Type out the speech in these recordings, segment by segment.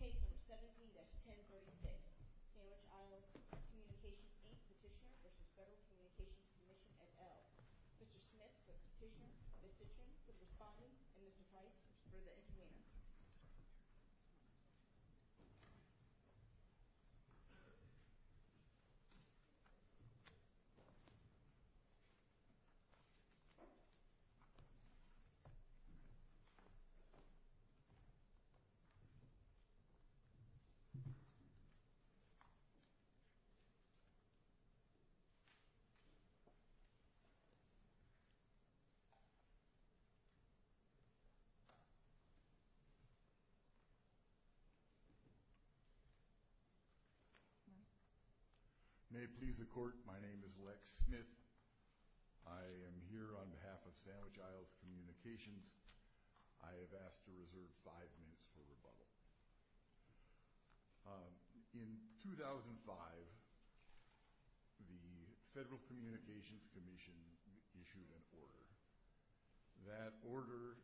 Case number 17-1036. Sandwich Isles Communications, Inc. Petition v. Federal Communications Commission, N.L. Mr. Smith for the petition. Ms. Sitchin for the respondents. And Mr. Price for the intervener. May it please the Court, my name is Lex Smith. I am here on behalf of Sandwich Isles Communications. I have asked to reserve five minutes for rebuttal. In 2005, the Federal Communications Commission issued an order. That order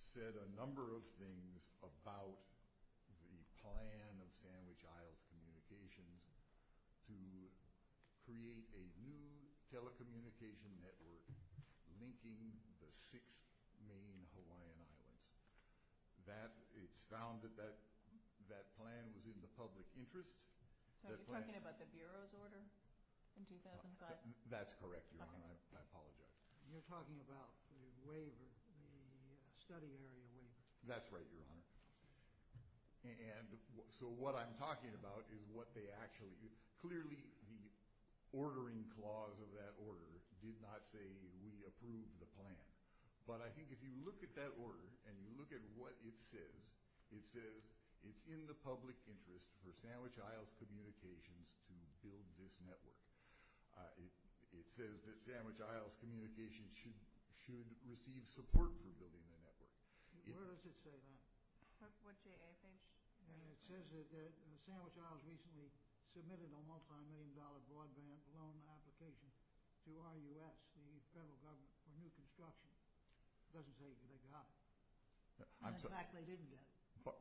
said a number of things about the plan of Sandwich Isles Communications to create a new telecommunication network linking the six main Hawaiian islands. It's found that that plan was in the public interest. So you're talking about the Bureau's order in 2005? That's correct, Your Honor. I apologize. You're talking about the waiver, the study area waiver. That's right, Your Honor. And so what I'm talking about is what they actually, clearly the ordering clause of that order did not say we approve the plan. But I think if you look at that order and you look at what it says, it says it's in the public interest for Sandwich Isles Communications to build this network. It says that Sandwich Isles Communications should receive support for building the network. Where does it say that? It says that Sandwich Isles recently submitted a multimillion dollar broadband loan application to RUS, the federal government, for new construction. It doesn't say they got it. In fact, they didn't get it.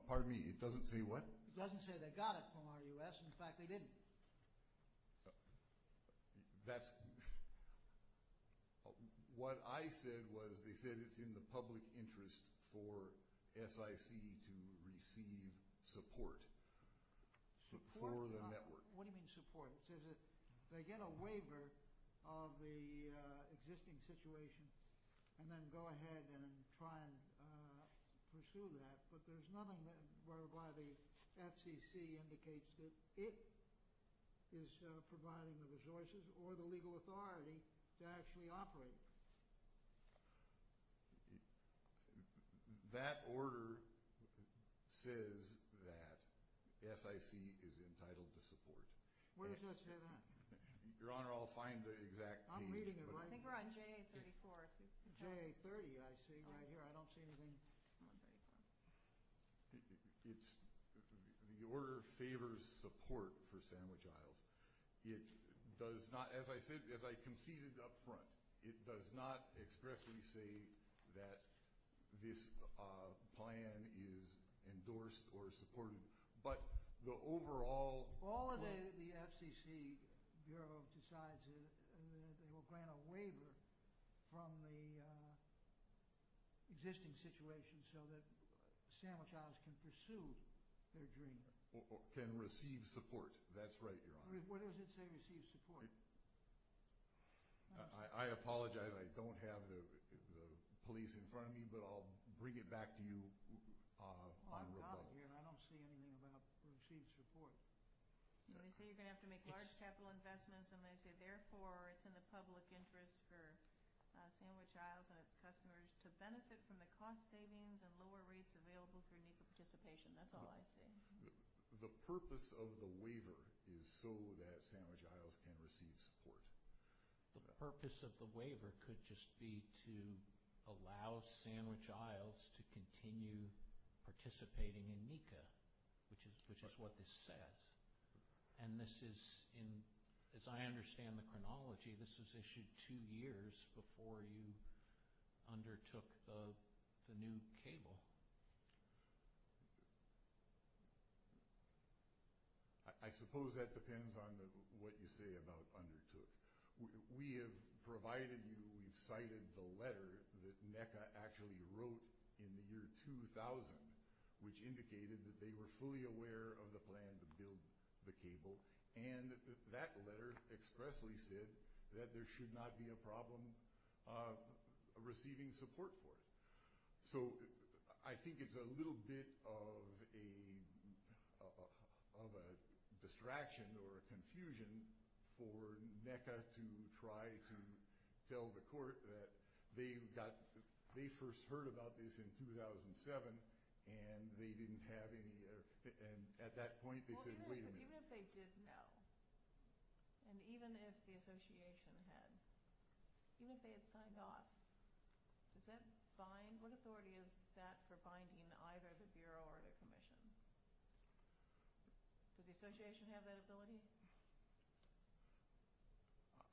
Pardon me, it doesn't say what? It doesn't say they got it from RUS. In fact, they didn't. So what I said was they said it's in the public interest for SIC to receive support for the network. What do you mean support? It says that they get a waiver of the existing situation and then go ahead and try and pursue that. But there's nothing whereby the FCC indicates that it is providing the resources or the legal authority to actually operate. That order says that SIC is entitled to support. Where does that say that? Your Honor, I'll find the exact page. I'm reading it right now. I think we're on JA-34. JA-30, I see right here. I don't see anything. The order favors support for Sandwich Isles. It does not, as I said, as I conceded up front, it does not expressly say that this plan is endorsed or supported, but the overall All of the FCC Bureau decides that they will grant a waiver from the existing situation so that Sandwich Isles can pursue their dream. Can receive support. That's right, Your Honor. Where does it say receive support? I apologize. I don't have the police in front of me, but I'll bring it back to you on rebuttal. I don't see anything about receive support. They say you're going to have to make large capital investments, and they say, therefore, it's in the public interest for Sandwich Isles and its customers to benefit from the cost savings and lower rates available for NEPA participation. That's all I see. The purpose of the waiver is so that Sandwich Isles can receive support. The purpose of the waiver could just be to allow Sandwich Isles to continue participating in NECA, which is what this says. And this is, as I understand the chronology, this was issued two years before you undertook the new cable. I suppose that depends on what you say about undertook. We have provided you, we've cited the letter that NECA actually wrote in the year 2000, which indicated that they were fully aware of the plan to build the cable. And that letter expressly said that there should not be a problem receiving support for it. So I think it's a little bit of a distraction or a confusion for NECA to try to tell the court that they first heard about this in 2007, and they didn't have any, and at that point they said, wait a minute. Even if they did know, and even if the association had, even if they had signed off, does that bind, what authority is that for binding either the Bureau or the Commission? Does the association have that ability?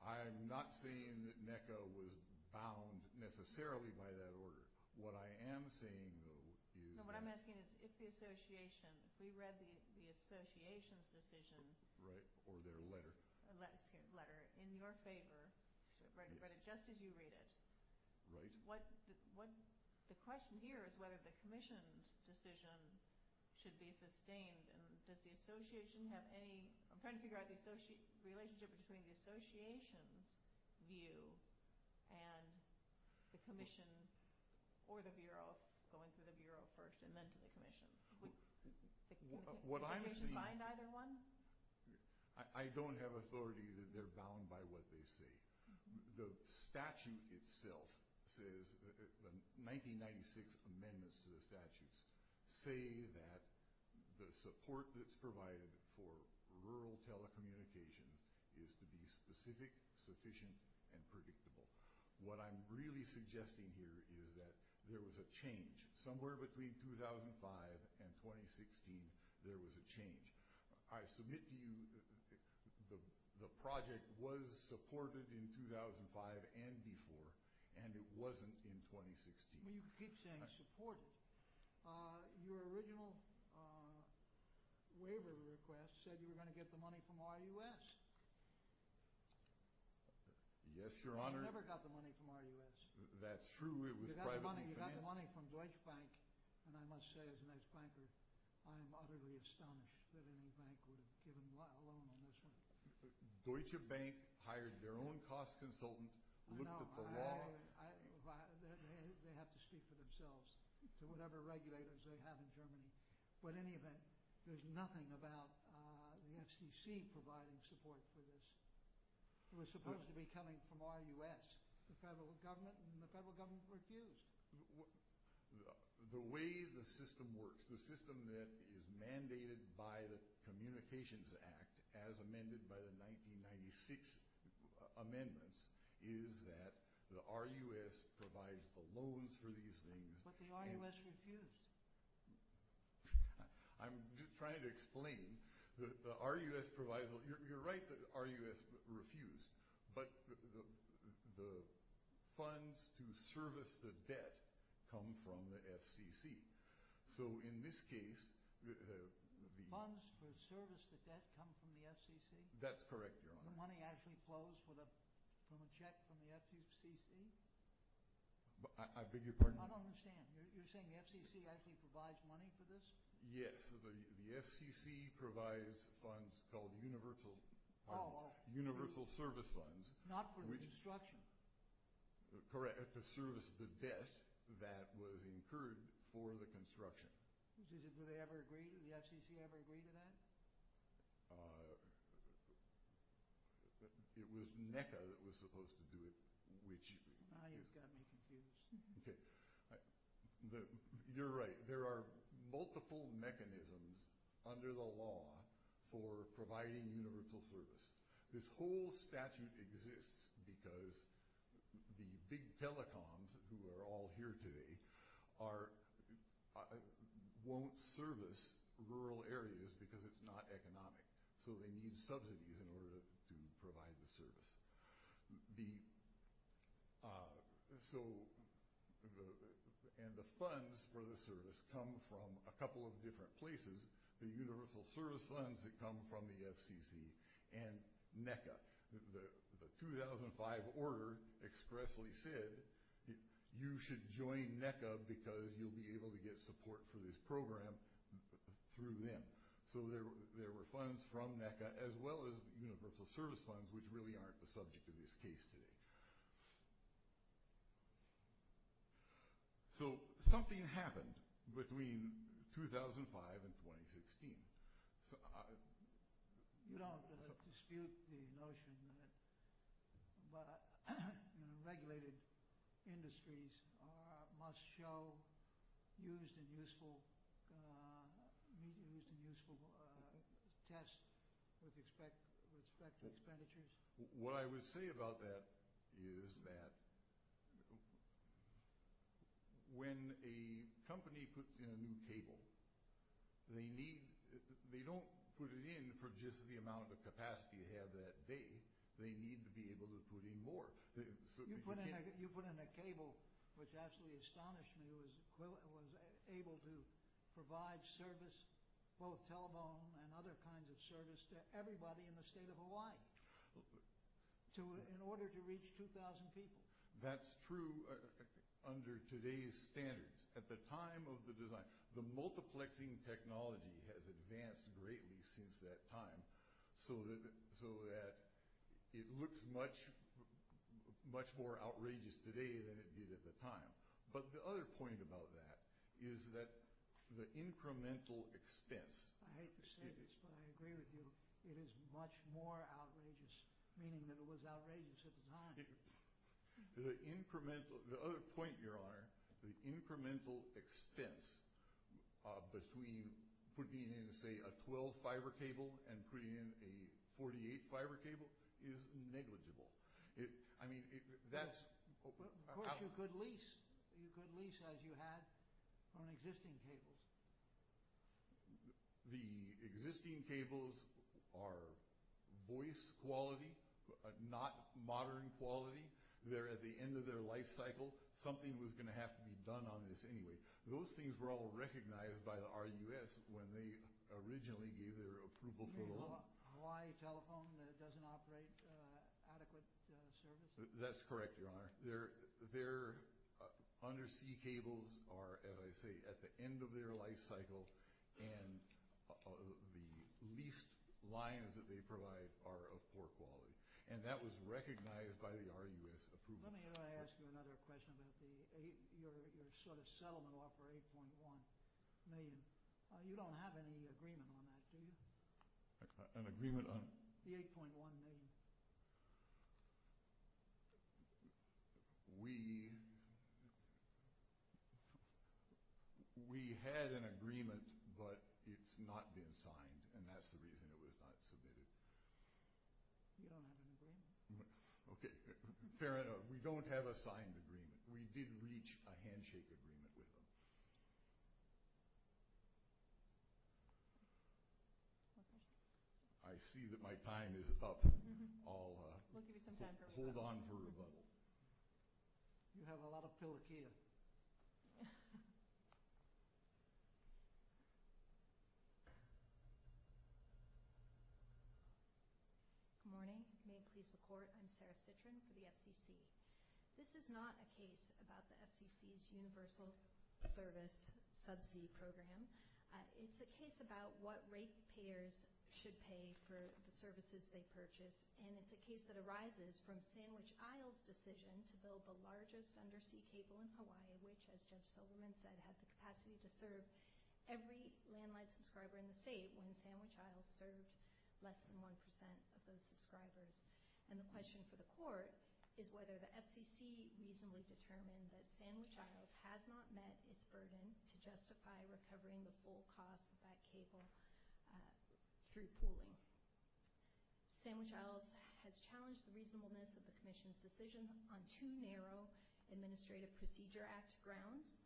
I'm not saying that NECA was bound necessarily by that order. What I am saying, though, is that— No, what I'm asking is if the association, if we read the association's decision— Right, or their letter. Letter. In your favor, write it just as you read it. Right. The question here is whether the Commission's decision should be sustained, and does the association have any—I'm trying to figure out the relationship between the association's view and the Commission or the Bureau, going through the Bureau first and then to the Commission. What I'm saying— Does the Commission bind either one? I don't have authority that they're bound by what they say. The statute itself says, the 1996 amendments to the statutes, say that the support that's provided for rural telecommunications is to be specific, sufficient, and predictable. What I'm really suggesting here is that there was a change. Somewhere between 2005 and 2016, there was a change. I submit to you the project was supported in 2005 and before, and it wasn't in 2016. Well, you keep saying supported. Your original waiver request said you were going to get the money from RUS. Yes, Your Honor. But you never got the money from RUS. That's true. It was privately financed. And I must say, as an ex-banker, I am utterly astonished that any bank would have given a loan on this one. Deutsche Bank hired their own cost consultant, looked at the law— No, they have to speak for themselves to whatever regulators they have in Germany. But in any event, there's nothing about the FCC providing support for this. It was supposed to be coming from RUS, the federal government, and the federal government refused. The way the system works, the system that is mandated by the Communications Act, as amended by the 1996 amendments, is that the RUS provides the loans for these things. But the RUS refused. I'm trying to explain. The RUS provides—you're right that the RUS refused. But the funds to service the debt come from the FCC. So in this case— The funds to service the debt come from the FCC? That's correct, Your Honor. The money actually flows from a check from the FCC? I beg your pardon? I don't understand. You're saying the FCC actually provides money for this? Yes, the FCC provides funds called universal service funds. Not for the construction? Correct, to service the debt that was incurred for the construction. Did the FCC ever agree to that? It was NECA that was supposed to do it, which— Ah, you've got me confused. You're right. There are multiple mechanisms under the law for providing universal service. This whole statute exists because the big telecoms, who are all here today, won't service rural areas because it's not economic. So they need subsidies in order to provide the service. And the funds for the service come from a couple of different places. The universal service funds that come from the FCC and NECA. The 2005 order expressly said, you should join NECA because you'll be able to get support for this program through them. So there were funds from NECA as well as universal service funds, which really aren't the subject of this case today. So something happened between 2005 and 2016. You don't dispute the notion that regulated industries must show used and useful tests with respect to expenditures? What I would say about that is that when a company puts in a new cable, they don't put it in for just the amount of capacity they have that day. They need to be able to put in more. You put in a cable, which absolutely astonished me, because it was able to provide service, both telecom and other kinds of service, to everybody in the state of Hawaii in order to reach 2,000 people. That's true under today's standards. At the time of the design, the multiplexing technology has advanced greatly since that time, so that it looks much more outrageous today than it did at the time. But the other point about that is that the incremental expense... I hate to say this, but I agree with you. It is much more outrageous, meaning that it was outrageous at the time. The other point, Your Honor, the incremental expense between putting in, say, a 12-fiber cable and putting in a 48-fiber cable is negligible. I mean, that's... Of course, you could lease. You could lease, as you had, on existing cables. The existing cables are voice quality, not modern quality. They're at the end of their life cycle. Something was going to have to be done on this anyway. Those things were all recognized by the RUS when they originally gave their approval for the law. Hawaii Telephone doesn't operate adequate service? That's correct, Your Honor. Their undersea cables are, as I say, at the end of their life cycle, and the leased lines that they provide are of poor quality. And that was recognized by the RUS approval. Let me ask you another question about your sort of settlement offer, $8.1 million. You don't have any agreement on that, do you? An agreement on... The $8.1 million. We... We had an agreement, but it's not been signed, and that's the reason it was not submitted. You don't have an agreement. Okay, fair enough. We don't have a signed agreement. We did reach a handshake agreement with them. I see that my time is up. I'll hold on for rebuttal. You have a lot of pill to kill. Good morning. May it please the Court, I'm Sarah Citrin for the FCC. This is not a case about the FCC's universal service subsea program. It's a case about what rate payers should pay for the services they purchase, and it's a case that arises from Sandwich Isles' decision to build the largest undersea cable in Hawaii, which, as Judge Silverman said, had the capacity to serve every landline subscriber in the state when Sandwich Isles served less than 1% of those subscribers. And the question for the Court is whether the FCC reasonably determined that Sandwich Isles has not met its burden to justify recovering the full cost of that cable through pooling. Sandwich Isles has challenged the reasonableness of the Commission's decision on two narrow Administrative Procedure Act grounds.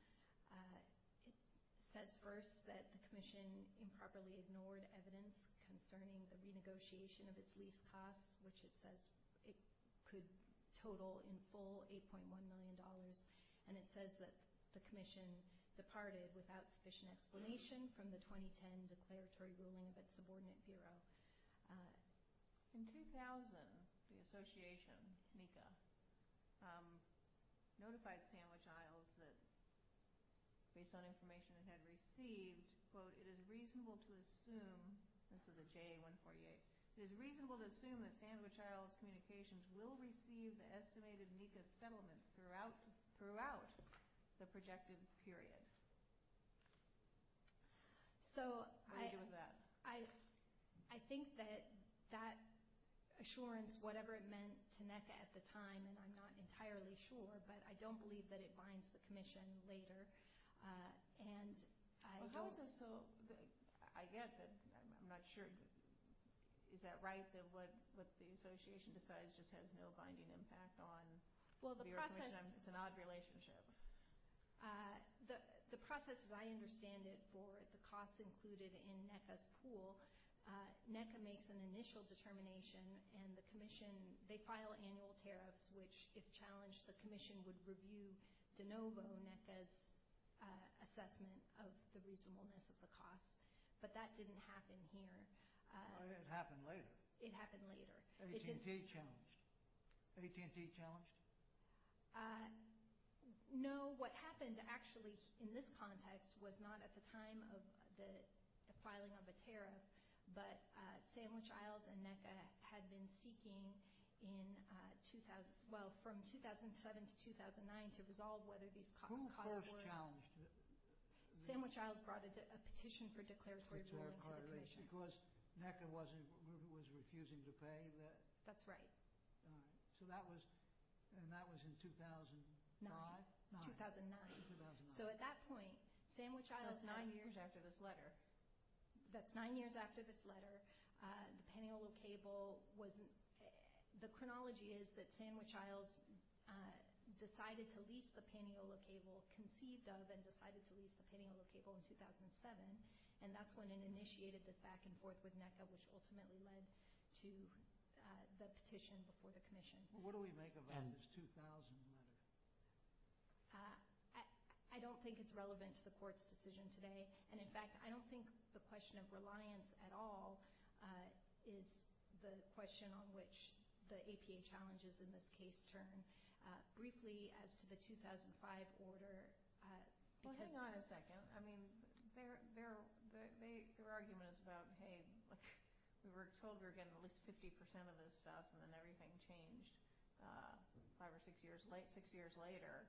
It says first that the Commission improperly ignored evidence concerning the renegotiation of its lease costs, which it says it could total in full $8.1 million, and it says that the Commission departed without sufficient explanation from the 2010 declaratory ruling of its subordinate Bureau. In 2000, the Association, NECA, notified Sandwich Isles that, based on information it had received, quote, it is reasonable to assume, this is a JA-148, it is reasonable to assume that Sandwich Isles Communications will receive the estimated NECA settlements throughout the projected period. What do you do with that? I think that that assurance, whatever it meant to NECA at the time, and I'm not entirely sure, but I don't believe that it binds the Commission later. How is it so, I get that, I'm not sure, is that right, that what the Association decides just has no binding impact on the Bureau of Commission? It's an odd relationship. The process, as I understand it, for the costs included in NECA's pool, NECA makes an initial determination and the Commission, they file annual tariffs, which, if challenged, the Commission would review de novo NECA's assessment of the reasonableness of the costs. But that didn't happen here. It happened later. It happened later. AT&T challenged. AT&T challenged? No, what happened actually in this context was not at the time of the filing of a tariff, but Sandwich Isles and NECA had been seeking from 2007 to 2009 to resolve whether these costs were... Who first challenged it? Sandwich Isles brought a petition for declaratory ruling to the Commission. Because NECA was refusing to pay? That's right. So that was in 2009? 2009. So at that point, Sandwich Isles... That's nine years after this letter. That's nine years after this letter. The Paniolo Cable was... The chronology is that Sandwich Isles decided to lease the Paniolo Cable, conceived of and decided to lease the Paniolo Cable in 2007, and that's when it initiated this back-and-forth with NECA, which ultimately led to the petition before the Commission. What do we make of that, this 2000 letter? I don't think it's relevant to the Court's decision today. And, in fact, I don't think the question of reliance at all is the question on which the APA challenges in this case turn. Briefly, as to the 2005 order, because... Well, hang on a second. I mean, their argument is about, hey, we were told we were getting at least 50 percent of this stuff, and then everything changed five or six years later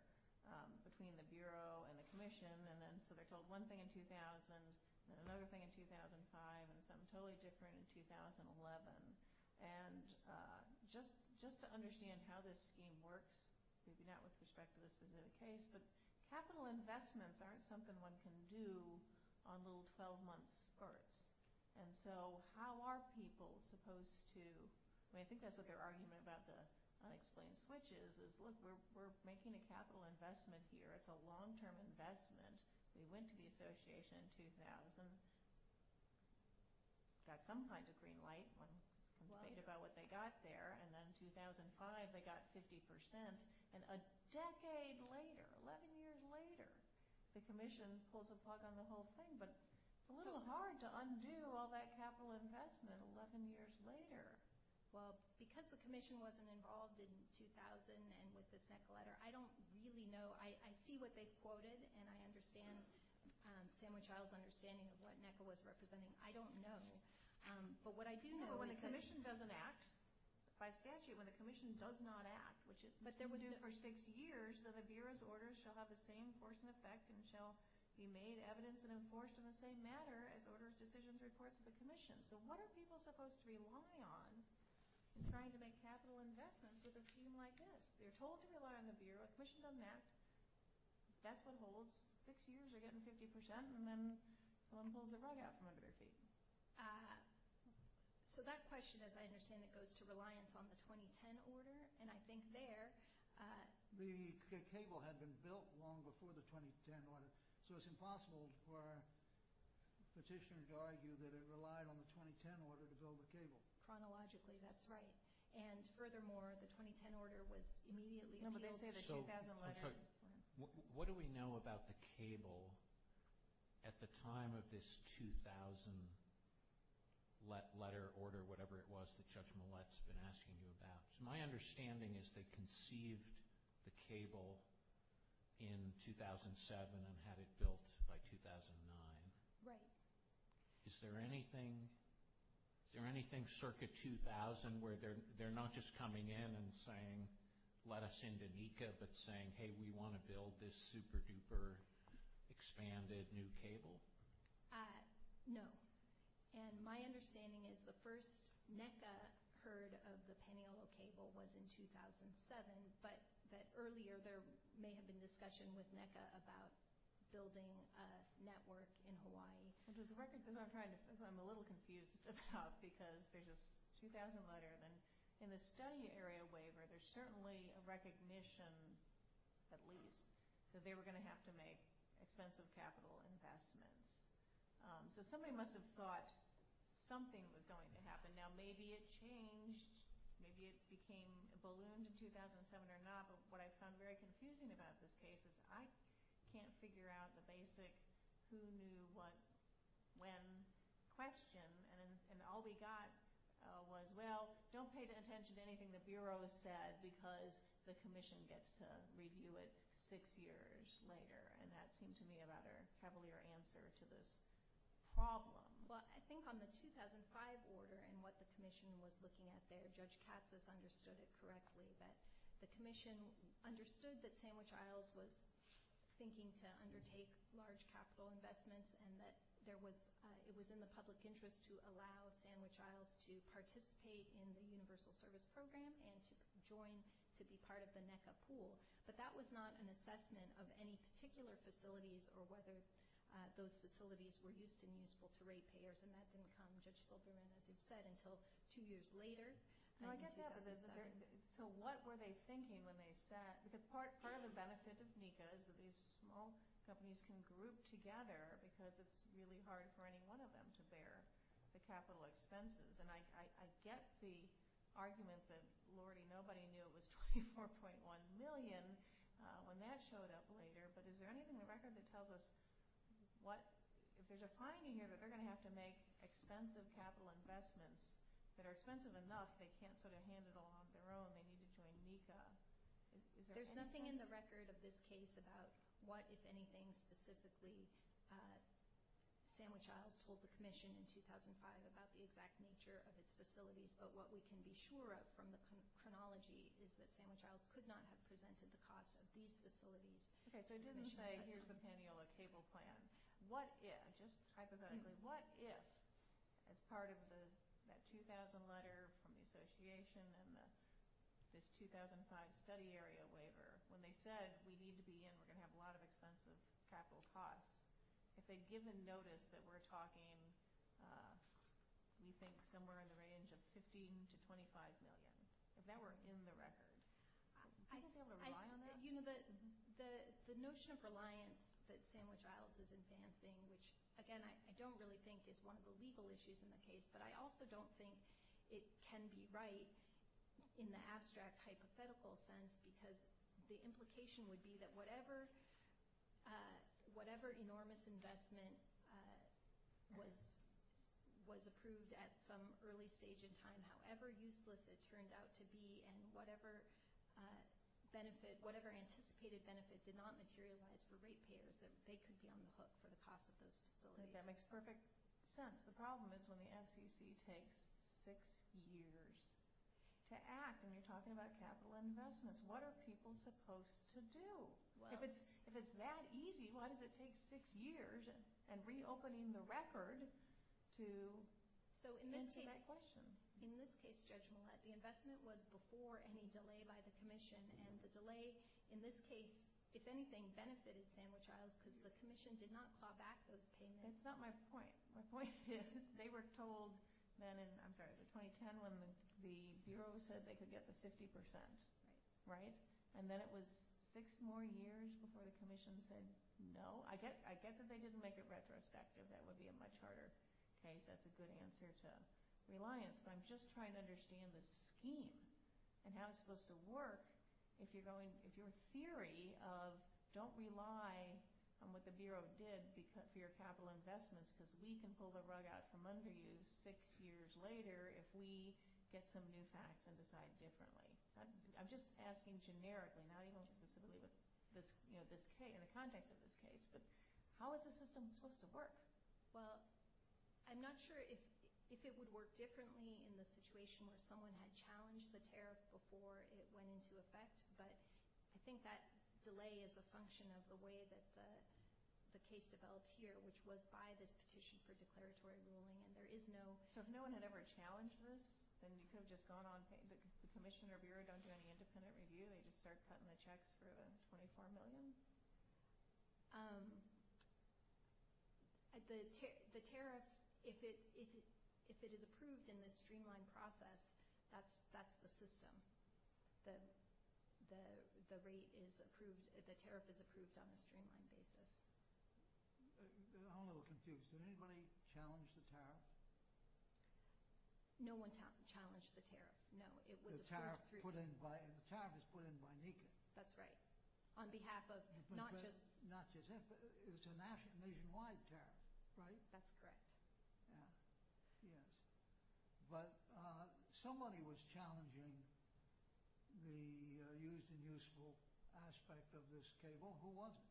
between the Bureau and the Commission, and then so they're told one thing in 2000 and another thing in 2005 and something totally different in 2011. And just to understand how this scheme works, maybe not with respect to this specific case, but capital investments aren't something one can do on little 12-month spurts. And so how are people supposed to... I mean, I think that's what their argument about the unexplained switch is, is, look, we're making a capital investment here. It's a long-term investment. We went to the Association in 2000, got some kind of green light when we made about what they got there, and then in 2005 they got 50 percent, and a decade later, 11 years later, the Commission pulls the plug on the whole thing. But it's a little hard to undo all that capital investment 11 years later. Well, because the Commission wasn't involved in 2000 and with this neck letter, I don't really know. I see what they've quoted, and I understand Samuel Child's understanding of what NECA was representing. I don't know. But what I do know is that... Well, when the Commission doesn't act, by statute, when the Commission does not act, which it didn't do for six years, then the Bureau's orders shall have the same force and effect and shall be made evidence and enforced on the same matter as orders, decisions, reports of the Commission. So what are people supposed to rely on in trying to make capital investments with a scheme like this? They're told to rely on the Bureau. The Commission doesn't act. That's what holds. Six years, they're getting 50 percent, and then someone pulls the rug out from under their feet. So that question, as I understand it, goes to reliance on the 2010 order, and I think there... The cable had been built long before the 2010 order, so it's impossible for a petitioner to argue that it relied on the 2010 order to build the cable. Chronologically, that's right. And furthermore, the 2010 order was immediately appealed. No, but they say the 2000 letter... I'm sorry. Go ahead. What do we know about the cable at the time of this 2000-letter order, whatever it was that Judge Millett's been asking you about? My understanding is they conceived the cable in 2007 and had it built by 2009. Right. Is there anything circa 2000 where they're not just coming in and saying, let us in to NECA, but saying, hey, we want to build this super-duper expanded new cable? No. And my understanding is the first NECA heard of the Paniolo cable was in 2007, but that earlier there may have been discussion with NECA about building a network in Hawaii. I'm a little confused about because there's this 2000 letter, and then in the study area waiver there's certainly a recognition, at least, that they were going to have to make expensive capital investments. So somebody must have thought something was going to happen. Now, maybe it changed, maybe it became ballooned in 2007 or not, but what I found very confusing about this case is I can't figure out the basic who-knew-what-when question, and all we got was, well, don't pay attention to anything the Bureau has said because the Commission gets to review it six years later, and that seemed to me a better, heavier answer to this problem. Well, I think on the 2005 order and what the Commission was looking at there, Judge Katz has understood it correctly, that the Commission understood that Sandwich Isles was thinking to undertake large capital investments and that it was in the public interest to allow Sandwich Isles to participate in the Universal Service Program and to join to be part of the NECA pool, but that was not an assessment of any particular facilities or whether those facilities were used and useful to rate payers, and that didn't come, Judge Silverman, as you've said, until two years later in 2007. I get that, but so what were they thinking when they said, because part of the benefit of NECA is that these small companies can group together because it's really hard for any one of them to bear the capital expenses, and I get the argument that, Lordy, nobody knew it was $24.1 million when that showed up later, but is there anything in the record that tells us what, if there's a finding here that they're going to have to make expensive capital investments that are expensive enough they can't sort of hand it along on their own, they need to join NECA? Is there anything? There's nothing in the record of this case about what, if anything, specifically Sandwich Isles told the Commission in 2005 about the exact nature of its facilities, but what we can be sure of from the chronology is that Sandwich Isles could not have presented the cost of these facilities. Okay, so it didn't say here's the Paniola Cable Plan. What if, just hypothetically, what if, as part of that 2000 letter from the Association and this 2005 study area waiver, when they said we need to be in, we're going to have a lot of expensive capital costs, if they'd given notice that we're talking, we think, somewhere in the range of $15 to $25 million, if that were in the record, wouldn't they be able to rely on that? You know, the notion of reliance that Sandwich Isles is advancing, which, again, I don't really think is one of the legal issues in the case, but I also don't think it can be right in the abstract hypothetical sense because the implication would be that whatever enormous investment was approved at some early stage in time, however useless it turned out to be, and whatever benefit, whatever anticipated benefit did not materialize for rate payers, that they could be on the hook for the cost of those facilities. I think that makes perfect sense. The problem is when the SEC takes six years to act, and you're talking about capital investments, what are people supposed to do? If it's that easy, why does it take six years and reopening the record to answer that question? In this case, Judge Millett, the investment was before any delay by the Commission, and the delay in this case, if anything, benefited Sandwich Isles because the Commission did not claw back those payments. That's not my point. My point is they were told then in 2010 when the Bureau said they could get the 50%, right? And then it was six more years before the Commission said no? I get that they didn't make it retrospective. That would be a much harder case. That's a good answer to reliance. But I'm just trying to understand the scheme and how it's supposed to work if you're a theory of don't rely on what the Bureau did for your capital investments because we can pull the rug out from under you six years later if we get some new facts and decide differently. I'm just asking generically, not even specifically in the context of this case, but how is the system supposed to work? Well, I'm not sure if it would work differently in the situation where someone had challenged the tariff before it went into effect, but I think that delay is a function of the way that the case developed here, which was by this petition for declaratory ruling, and there is no— So if no one had ever challenged this, then you could have just gone on— the Commission or Bureau don't do any independent review. They just start cutting the checks for the $24 million? The tariff, if it is approved in this streamlined process, that's the system. The rate is approved—the tariff is approved on a streamlined basis. I'm a little confused. Did anybody challenge the tariff? No one challenged the tariff. No, it was approved through— The tariff is put in by NECA. That's right, on behalf of not just— It's a nationwide tariff, right? That's correct. Yes. But somebody was challenging the used and useful aspect of this cable. Who was it?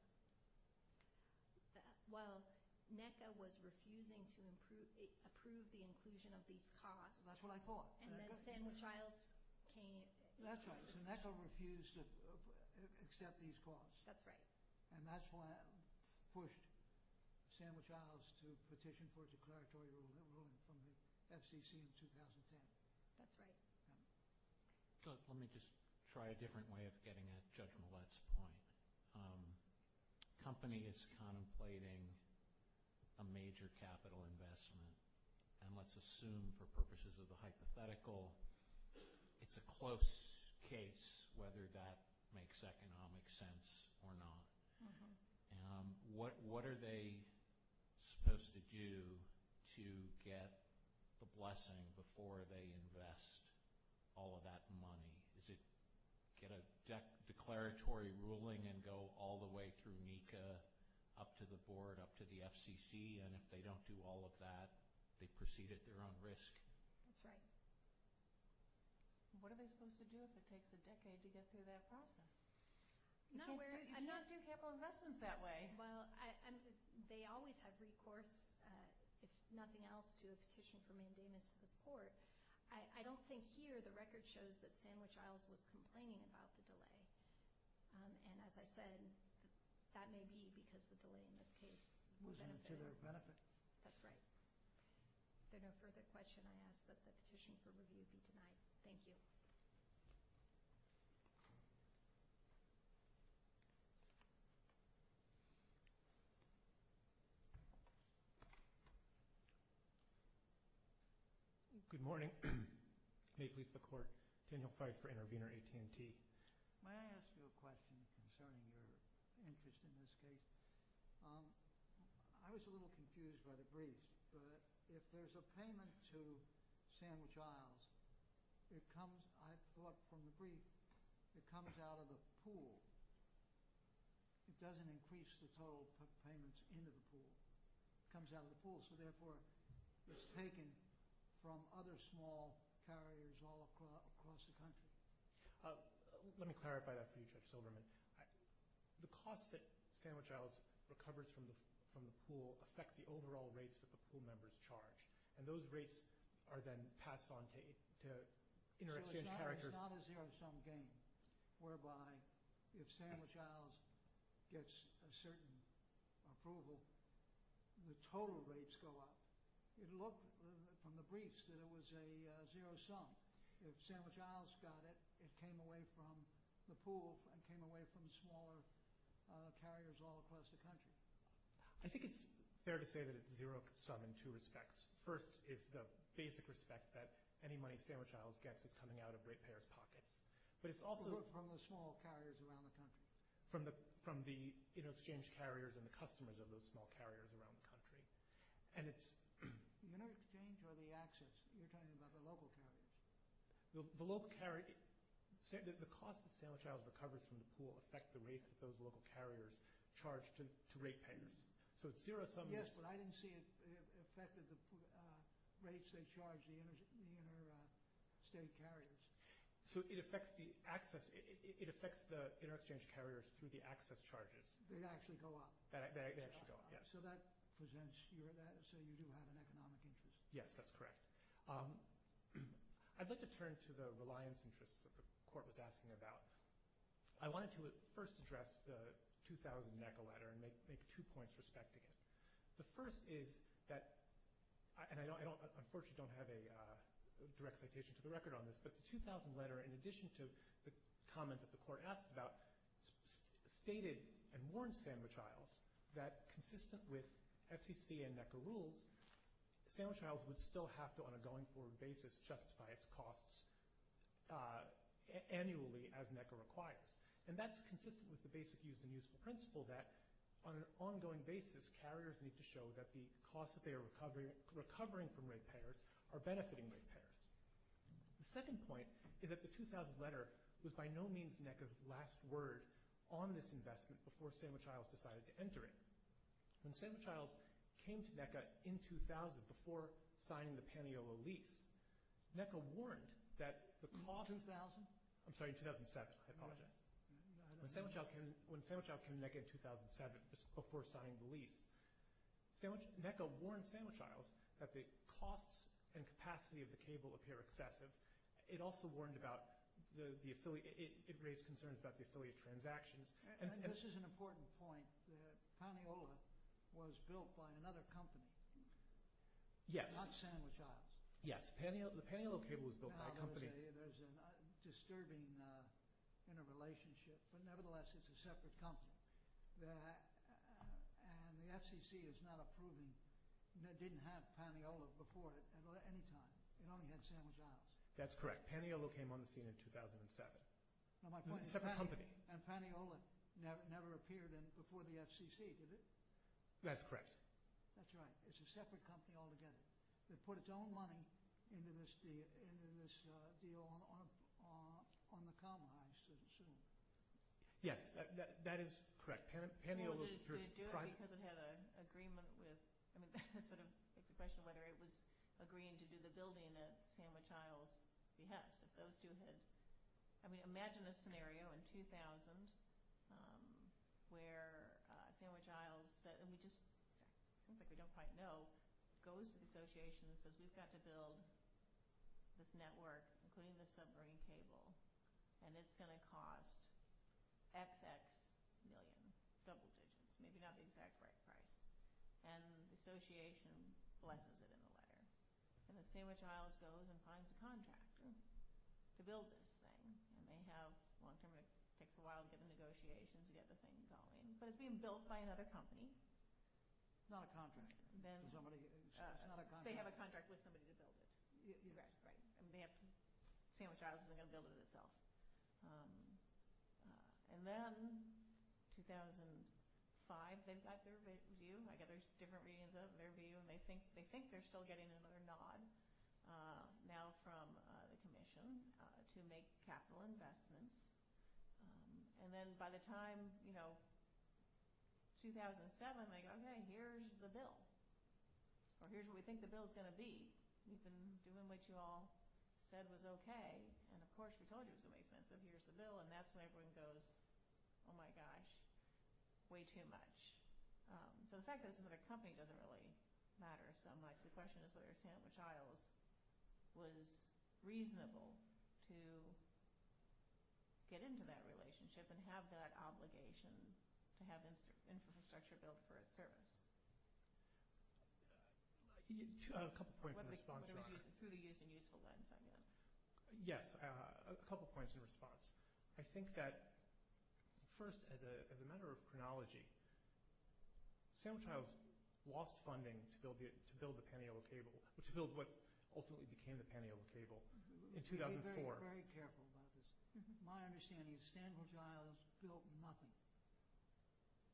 Well, NECA was refusing to approve the inclusion of these costs. That's what I thought. And then sandwich files came— That's right. So NECA refused to accept these costs. That's right. And that's why I pushed sandwich files to petition for a declaratory ruling from the FCC in 2010. That's right. Let me just try a different way of getting at Judge Millett's point. The company is contemplating a major capital investment, and let's assume for purposes of the hypothetical it's a close case whether that makes economic sense or not. What are they supposed to do to get the blessing before they invest all of that money? Is it get a declaratory ruling and go all the way through NECA up to the board, up to the FCC? And if they don't do all of that, they proceed at their own risk? That's right. What are they supposed to do if it takes a decade to get through that process? You can't do capital investments that way. Well, they always have recourse, if nothing else, to a petition for mandamus to this court. I don't think here the record shows that sandwich files was complaining about the delay. And as I said, that may be because the delay in this case was an antediluvian benefit. That's right. If there are no further questions, I ask that the petition for review be denied. Thank you. Good morning. May it please the Court, Daniel Fyfe for Intervenor AT&T. May I ask you a question concerning your interest in this case? I was a little confused by the briefs. But if there's a payment to sandwich files, it comes, I thought from the brief, it comes out of the pool. It doesn't increase the total payments into the pool. It comes out of the pool. So, therefore, it's taken from other small carriers all across the country. Let me clarify that for you, Judge Silverman. The cost that sandwich files recovers from the pool affect the overall rates that the pool members charge. And those rates are then passed on to inter-exchange carriers. So, it's not a zero-sum game, whereby if sandwich files gets a certain approval, the total rates go up. It looked, from the briefs, that it was a zero-sum. If sandwich files got it, it came away from the pool and came away from smaller carriers all across the country. I think it's fair to say that it's a zero-sum in two respects. First is the basic respect that any money sandwich files gets is coming out of ratepayers' pockets. But it's also— From the small carriers around the country. From the inter-exchange carriers and the customers of those small carriers around the country. And it's— Inter-exchange or the access? You're talking about the local carriers. The local carrier—the cost that sandwich files recovers from the pool affect the rates that those local carriers charge to ratepayers. So, it's zero-sum— Yes, but I didn't see it affected the rates they charge the inter-state carriers. So, it affects the access—it affects the inter-exchange carriers through the access charges. They actually go up. They actually go up, yes. So, that presents—so, you do have an economic interest. Yes, that's correct. I'd like to turn to the reliance interests that the court was asking about. I wanted to first address the 2000 NECA letter and make two points respecting it. The first is that—and I unfortunately don't have a direct citation to the record on this, but the 2000 letter, in addition to the comments that the court asked about, stated and warned sandwich files that consistent with FCC and NECA rules, sandwich files would still have to, on a going-forward basis, justify its costs annually as NECA requires. And that's consistent with the basic used and useful principle that on an ongoing basis, carriers need to show that the cost that they are recovering from ratepayers are benefiting ratepayers. The second point is that the 2000 letter was by no means NECA's last word on this investment before sandwich files decided to enter it. When sandwich files came to NECA in 2000 before signing the Paniolo lease, NECA warned that the cost— 2000? I'm sorry, 2007. I apologize. When sandwich files came to NECA in 2007 before signing the lease, NECA warned sandwich files that the costs and capacity of the cable appear excessive. It also warned about the—it raised concerns about the affiliate transactions. This is an important point. Paniolo was built by another company. Yes. Not sandwich files. Yes. The Paniolo cable was built by a company. There's a disturbing interrelationship, but nevertheless, it's a separate company. And the FCC is not approving—didn't have Paniolo before it at any time. It only had sandwich files. That's correct. Paniolo came on the scene in 2007. No, my point is— A separate company. And Paniolo never appeared before the FCC, did it? That's correct. That's right. It's a separate company altogether. They put its own money into this deal on the compromise, I assume. Yes. That is correct. Paniolo's— Well, did it do it because it had an agreement with—I mean, it's a question of whether it was agreeing to do the building at sandwich files' behest. If those two had—I mean, imagine a scenario in 2000 where sandwich files said—and we just—it seems like we don't quite know—goes to the association and says, we've got to build this network, including the submarine cable, and it's going to cost XX million, double digits, maybe not the exact right price. And the association blesses it in a letter. And the sandwich files goes and finds a contractor to build this thing. And they have a long term—it takes a while to get the negotiations to get the thing going. But it's being built by another company. Somebody— It's not a contract. But they have a contract with somebody to build it. Correct. Right. Sandwich files isn't going to build it itself. And then 2005, they've got their view. I guess there's different readings of their view, and they think they're still getting another nod now from the commission to make capital investments. And then by the time, you know, 2007, they go, okay, here's the bill. Or here's what we think the bill's going to be. We've been doing what you all said was okay. And of course, we told you it was going to be expensive. Here's the bill. And that's when everyone goes, oh my gosh, way too much. So the fact that it's another company doesn't really matter so much. The question is whether sandwich files was reasonable to get into that relationship and have that obligation to have infrastructure built for its service. A couple points in response to that. Through the used and useful lens, I mean. Yes. A couple points in response. I think that, first, as a matter of chronology, sandwich files lost funding to build the Paniolo Cable, to build what ultimately became the Paniolo Cable in 2004. We have to be very, very careful about this. My understanding is sandwich files built nothing.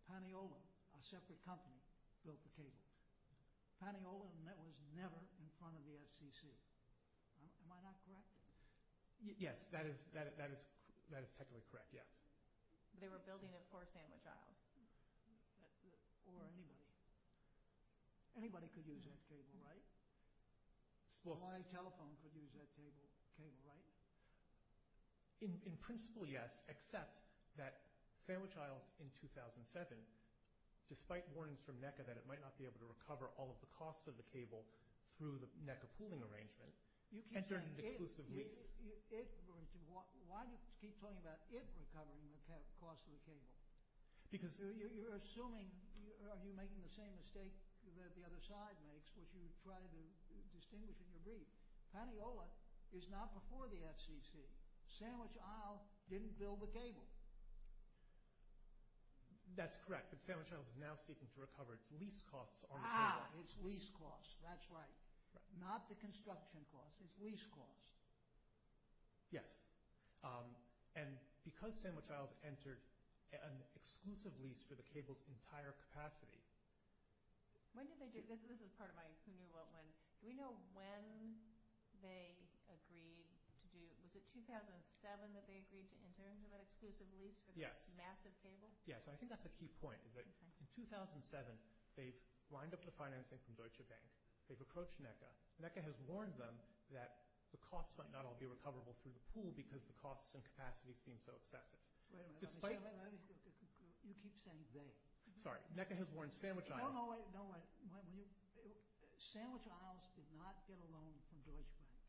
Paniolo, a separate company, built the cable. Paniolo was never in front of the FCC. Am I not correct? Yes, that is technically correct, yes. They were building it for sandwich files. Or anybody. Anybody could use that cable, right? My telephone could use that cable, right? In principle, yes, except that sandwich files in 2007, despite warnings from NECA that it might not be able to recover all of the costs of the cable through the NECA pooling arrangement, entered an exclusive lease. Why do you keep talking about it recovering the costs of the cable? You're assuming you're making the same mistake that the other side makes, which you try to distinguish in your brief. Paniolo is not before the FCC. Sandwich Aisle didn't build the cable. That's correct, but Sandwich Aisle is now seeking to recover its lease costs on the cable. Ah, its lease costs, that's right. Not the construction costs, its lease costs. Yes. And because Sandwich Aisle has entered an exclusive lease for the cable's entire capacity... When did they do... This is part of my who knew what when. Do we know when they agreed to do... Was it 2007 that they agreed to enter into that exclusive lease for this massive cable? Yes, I think that's a key point. In 2007, they've lined up the financing from Deutsche Bank. They've approached NECA. NECA has warned them that the costs might not all be recoverable through the pool because the costs and capacity seem so excessive. Wait a minute, you keep saying they. Sorry, NECA has warned Sandwich Aisle... I don't know... Sandwich Aisle did not get a loan from Deutsche Bank.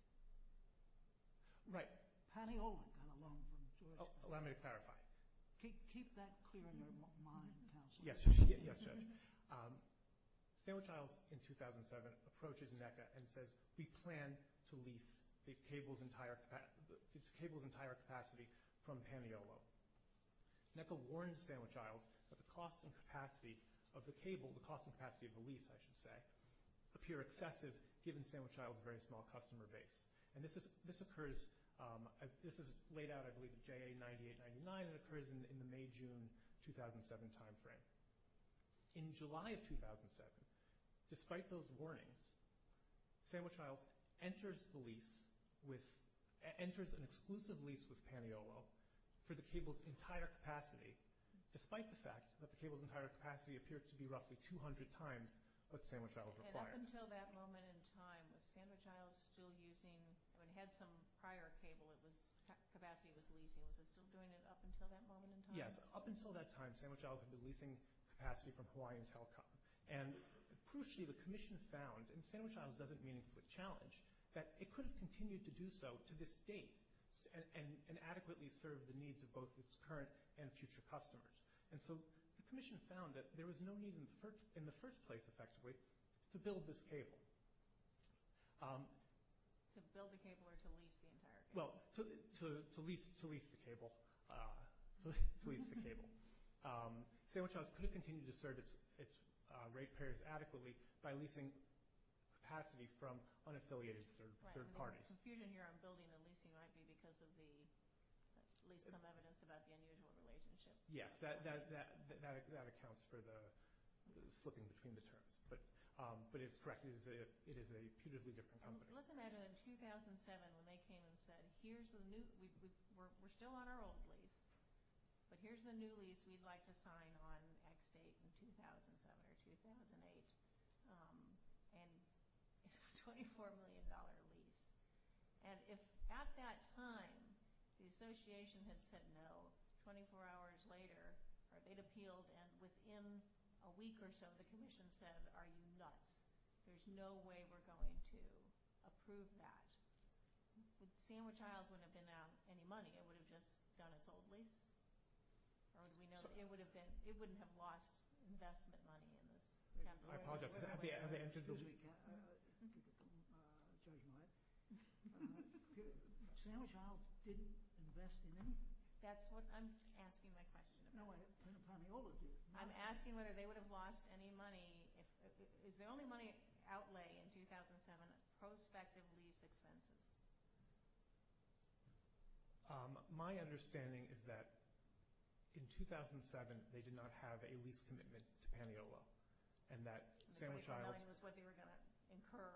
Right. Paniolo got a loan from Deutsche Bank. Allow me to clarify. Keep that clear in your mind, counsel. Yes, Judge. Sandwich Aisle, in 2007, approaches NECA and says, we plan to lease the cable's entire capacity from Paniolo. NECA warned Sandwich Aisle that the costs and capacity of the cable, the costs and capacity of the lease, I should say, appear excessive given Sandwich Aisle's very small customer base. And this occurs... This is laid out, I believe, in JA 98-99. It occurs in the May-June 2007 timeframe. In July of 2007, despite those warnings, Sandwich Aisle enters the lease with... enters an exclusive lease with Paniolo for the cable's entire capacity despite the fact that the cable's entire capacity appeared to be roughly 200 times what Sandwich Aisle required. And up until that moment in time, was Sandwich Aisle still using... When it had some prior cable, it was...capacity was leasing. Was it still doing it up until that moment in time? Yes. Up until that time, Sandwich Aisle had been leasing capacity from Hawaiian Telecom. And crucially, the Commission found, and Sandwich Aisle doesn't meaningfully challenge, that it could have continued to do so to this date and adequately serve the needs of both its current and future customers. And so the Commission found that there was no need in the first place, effectively, to build this cable. To build the cable or to lease the entire cable? Well, to lease the cable. To lease the cable. Sandwich Aisle could have continued to serve its rate payers adequately by leasing capacity from unaffiliated third parties. Right. And the confusion here on building and leasing might be because of the...at least some evidence about the unusual relationship. Yes. That accounts for the slipping between the terms. But it's correct. It is a putatively different company. Let's imagine in 2007 when they came and said, we're still on our old lease, but here's the new lease we'd like to sign on X date in 2007 or 2008. And it's a $24 million lease. And if at that time the Association had said no, 24 hours later they'd appealed, and within a week or so the Commission said, are you nuts? There's no way we're going to approve that. Sandwich Aisle wouldn't have been out any money. It would have just done its old lease. Or we know that it wouldn't have lost investment money in this. I apologize. I haven't answered the question. I think it's a judgment. Sandwich Aisle didn't invest in anything? That's what I'm asking my question about. No, Panayola did. I'm asking whether they would have lost any money. Is the only money outlay in 2007 prospective lease expenses? My understanding is that in 2007 they did not have a lease commitment to Panayola. And that Sandwich Aisle – The $24 million was what they were going to incur starting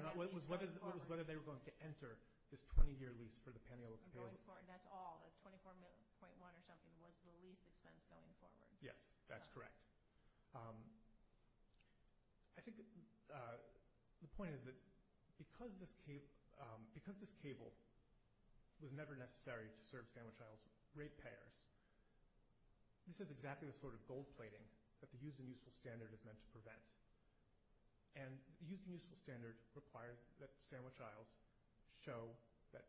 that lease going forward. The question was whether they were going to enter this 20-year lease for the Panayola Company. That's all. The $24.1 million or something was the lease expense going forward. Yes, that's correct. I think the point is that because this cable was never necessary to serve Sandwich Aisle's rate payers, this is exactly the sort of gold plating that the used and useful standard is meant to prevent. And the used and useful standard requires that Sandwich Aisle show that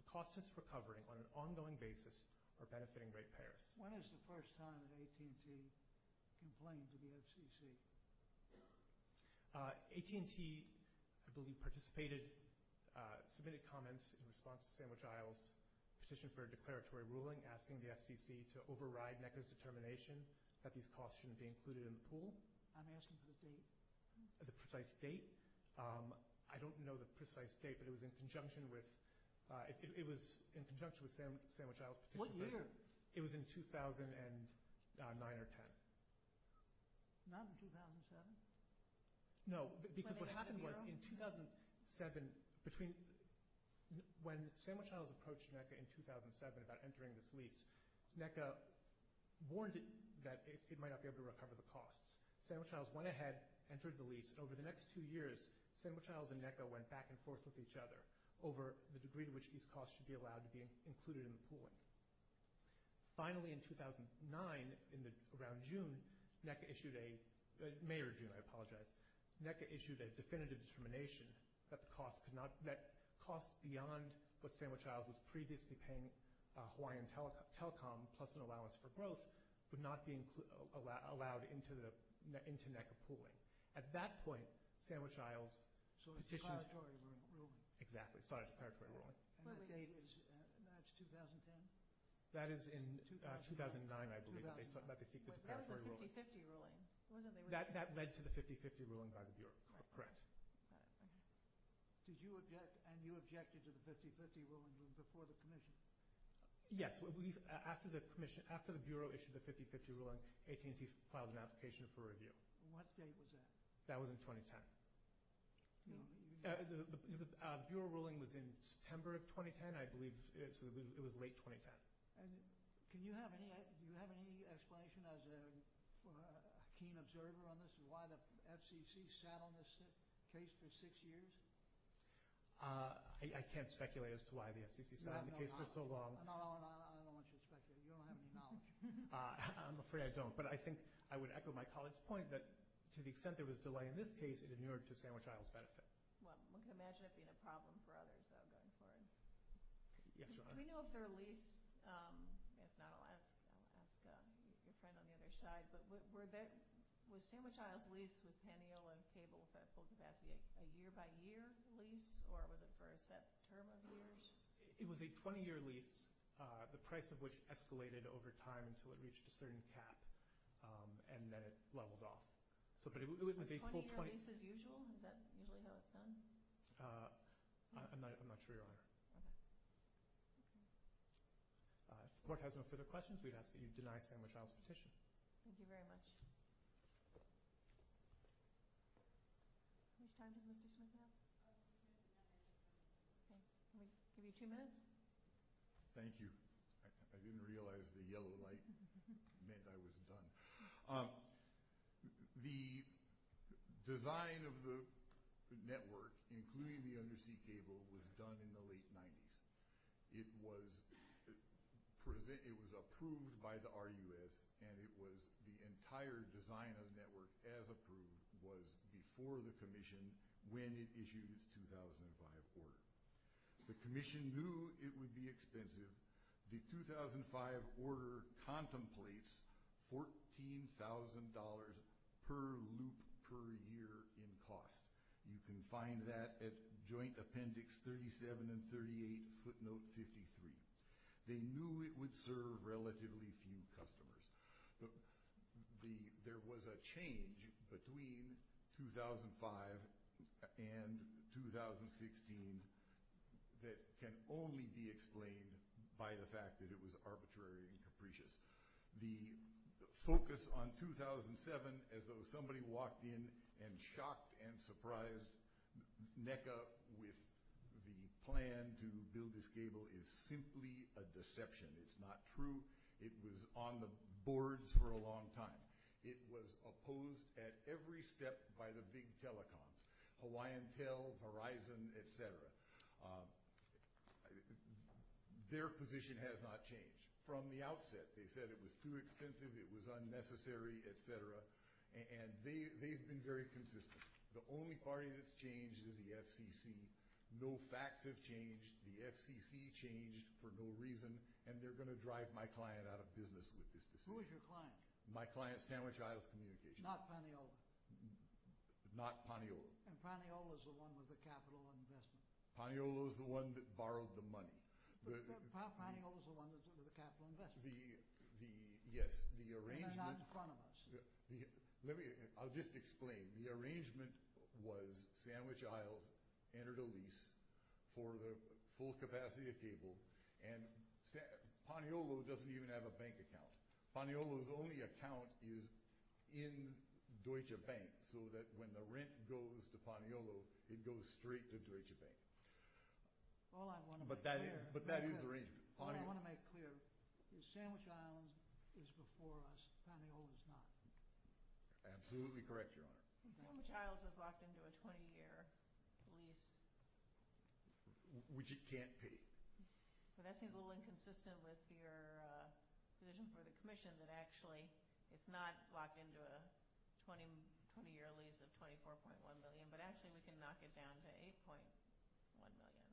the costs it's recovering on an ongoing basis are benefiting rate payers. When is the first time that AT&T complained to the FCC? AT&T, I believe, participated, submitted comments in response to Sandwich Aisle's petition for a declaratory ruling asking the FCC to override NECA's determination that these costs shouldn't be included in the pool. I'm asking for the date. The precise date? I don't know the precise date, but it was in conjunction with Sandwich Aisle's petition. What year? It was in 2009 or 10. Not in 2007? No, because what happened was in 2007, when Sandwich Aisle approached NECA in 2007 about entering this lease, NECA warned it that it might not be able to recover the costs. Sandwich Aisle went ahead, entered the lease. Over the next two years, Sandwich Aisle and NECA went back and forth with each other over the degree to which these costs should be allowed to be included in the pooling. Finally, in 2009, around June, NECA issued a definitive determination that costs beyond what Sandwich Aisle was previously paying Hawaiian Telecom, plus an allowance for growth, would not be allowed into NECA pooling. At that point, Sandwich Aisle's petition... So it's a declaratory ruling? Exactly. It's not a declaratory ruling. And the date is, that's 2010? That is in 2009, I believe, that they seeked a declaratory ruling. But that was a 50-50 ruling, wasn't it? That led to the 50-50 ruling by the Bureau, correct. And you objected to the 50-50 ruling before the Commission? Yes. After the Bureau issued the 50-50 ruling, AT&T filed an application for review. What date was that? That was in 2010. The Bureau ruling was in September of 2010, I believe, so it was late 2010. And can you have any explanation as a keen observer on this, why the FCC sat on this case for six years? I can't speculate as to why the FCC sat on the case for so long. No, no, I don't want you to speculate. You don't have any knowledge. I'm afraid I don't, but I think I would echo my colleague's point that to the extent there was delay in this case, it inured to Sandwich Aisle's benefit. Well, imagine it being a problem for others, though, going forward. Yes, Your Honor. Do we know if their lease, if not, I'll ask your friend on the other side, but was Sandwich Aisle's lease with Panteola and Cable with that full capacity a year-by-year lease, or was it for a set term of years? It was a 20-year lease, the price of which escalated over time until it reached a certain cap, and then it leveled off. A 20-year lease as usual? Is that usually how it's done? I'm not sure, Your Honor. Okay. If the Court has no further questions, we'd ask that you deny Sandwich Aisle's petition. Thank you very much. Which time does Mr. Smith have? Okay. Can we give you two minutes? Thank you. I didn't realize the yellow light meant I was done. The design of the network, including the undersea cable, was done in the late 90s. It was approved by the RUS, and the entire design of the network, as approved, was before the Commission when it issued its 2005 order. The Commission knew it would be expensive. The 2005 order contemplates $14,000 per loop per year in cost. You can find that at Joint Appendix 37 and 38, footnote 53. They knew it would serve relatively few customers. There was a change between 2005 and 2016 that can only be explained by the fact that it was arbitrary and capricious. The focus on 2007, as though somebody walked in and shocked and surprised NECA with the plan to build this cable, is simply a deception. It's not true. It was on the boards for a long time. It was opposed at every step by the big telecoms, Hawaiian Tel, Verizon, et cetera. Their position has not changed. From the outset, they said it was too expensive, it was unnecessary, et cetera, and they've been very consistent. The only party that's changed is the FCC. No facts have changed. The FCC changed for no reason, and they're going to drive my client out of business with this decision. Who is your client? My client, Sandwich Isles Communications. Not Paniolo? Not Paniolo. And Paniolo's the one with the capital investment? Paniolo's the one that borrowed the money. But Paniolo's the one with the capital investment. Yes, the arrangement— And they're not in front of us. I'll just explain. The arrangement was Sandwich Isles entered a lease for the full capacity of cable, and Paniolo doesn't even have a bank account. Paniolo's only account is in Deutsche Bank, so that when the rent goes to Paniolo, it goes straight to Deutsche Bank. But that is the arrangement. Absolutely correct, Your Honor. Sandwich Isles is locked into a 20-year lease. Which it can't pay. Well, that seems a little inconsistent with your position for the commission, that actually it's not locked into a 20-year lease of $24.1 million, but actually we can knock it down to $8.1 million.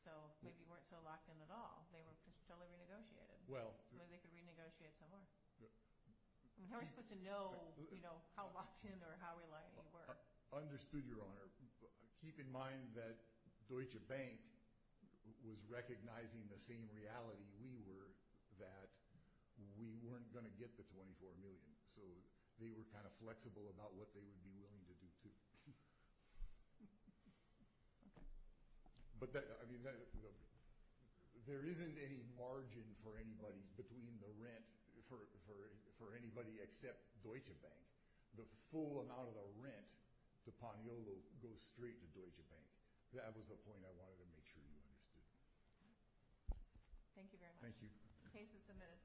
So maybe you weren't so locked in at all. They were totally renegotiated. Well— Maybe they could renegotiate some more. How are we supposed to know, you know, how locked in or how reliable you were? Understood, Your Honor. Keep in mind that Deutsche Bank was recognizing the same reality we were, that we weren't going to get the $24 million. So they were kind of flexible about what they would be willing to do, too. Okay. But there isn't any margin for anybody between the rent—for anybody except Deutsche Bank. The full amount of the rent to Paniolo goes straight to Deutsche Bank. That was the point I wanted to make sure you understood. Thank you very much. Thank you. The case is submitted.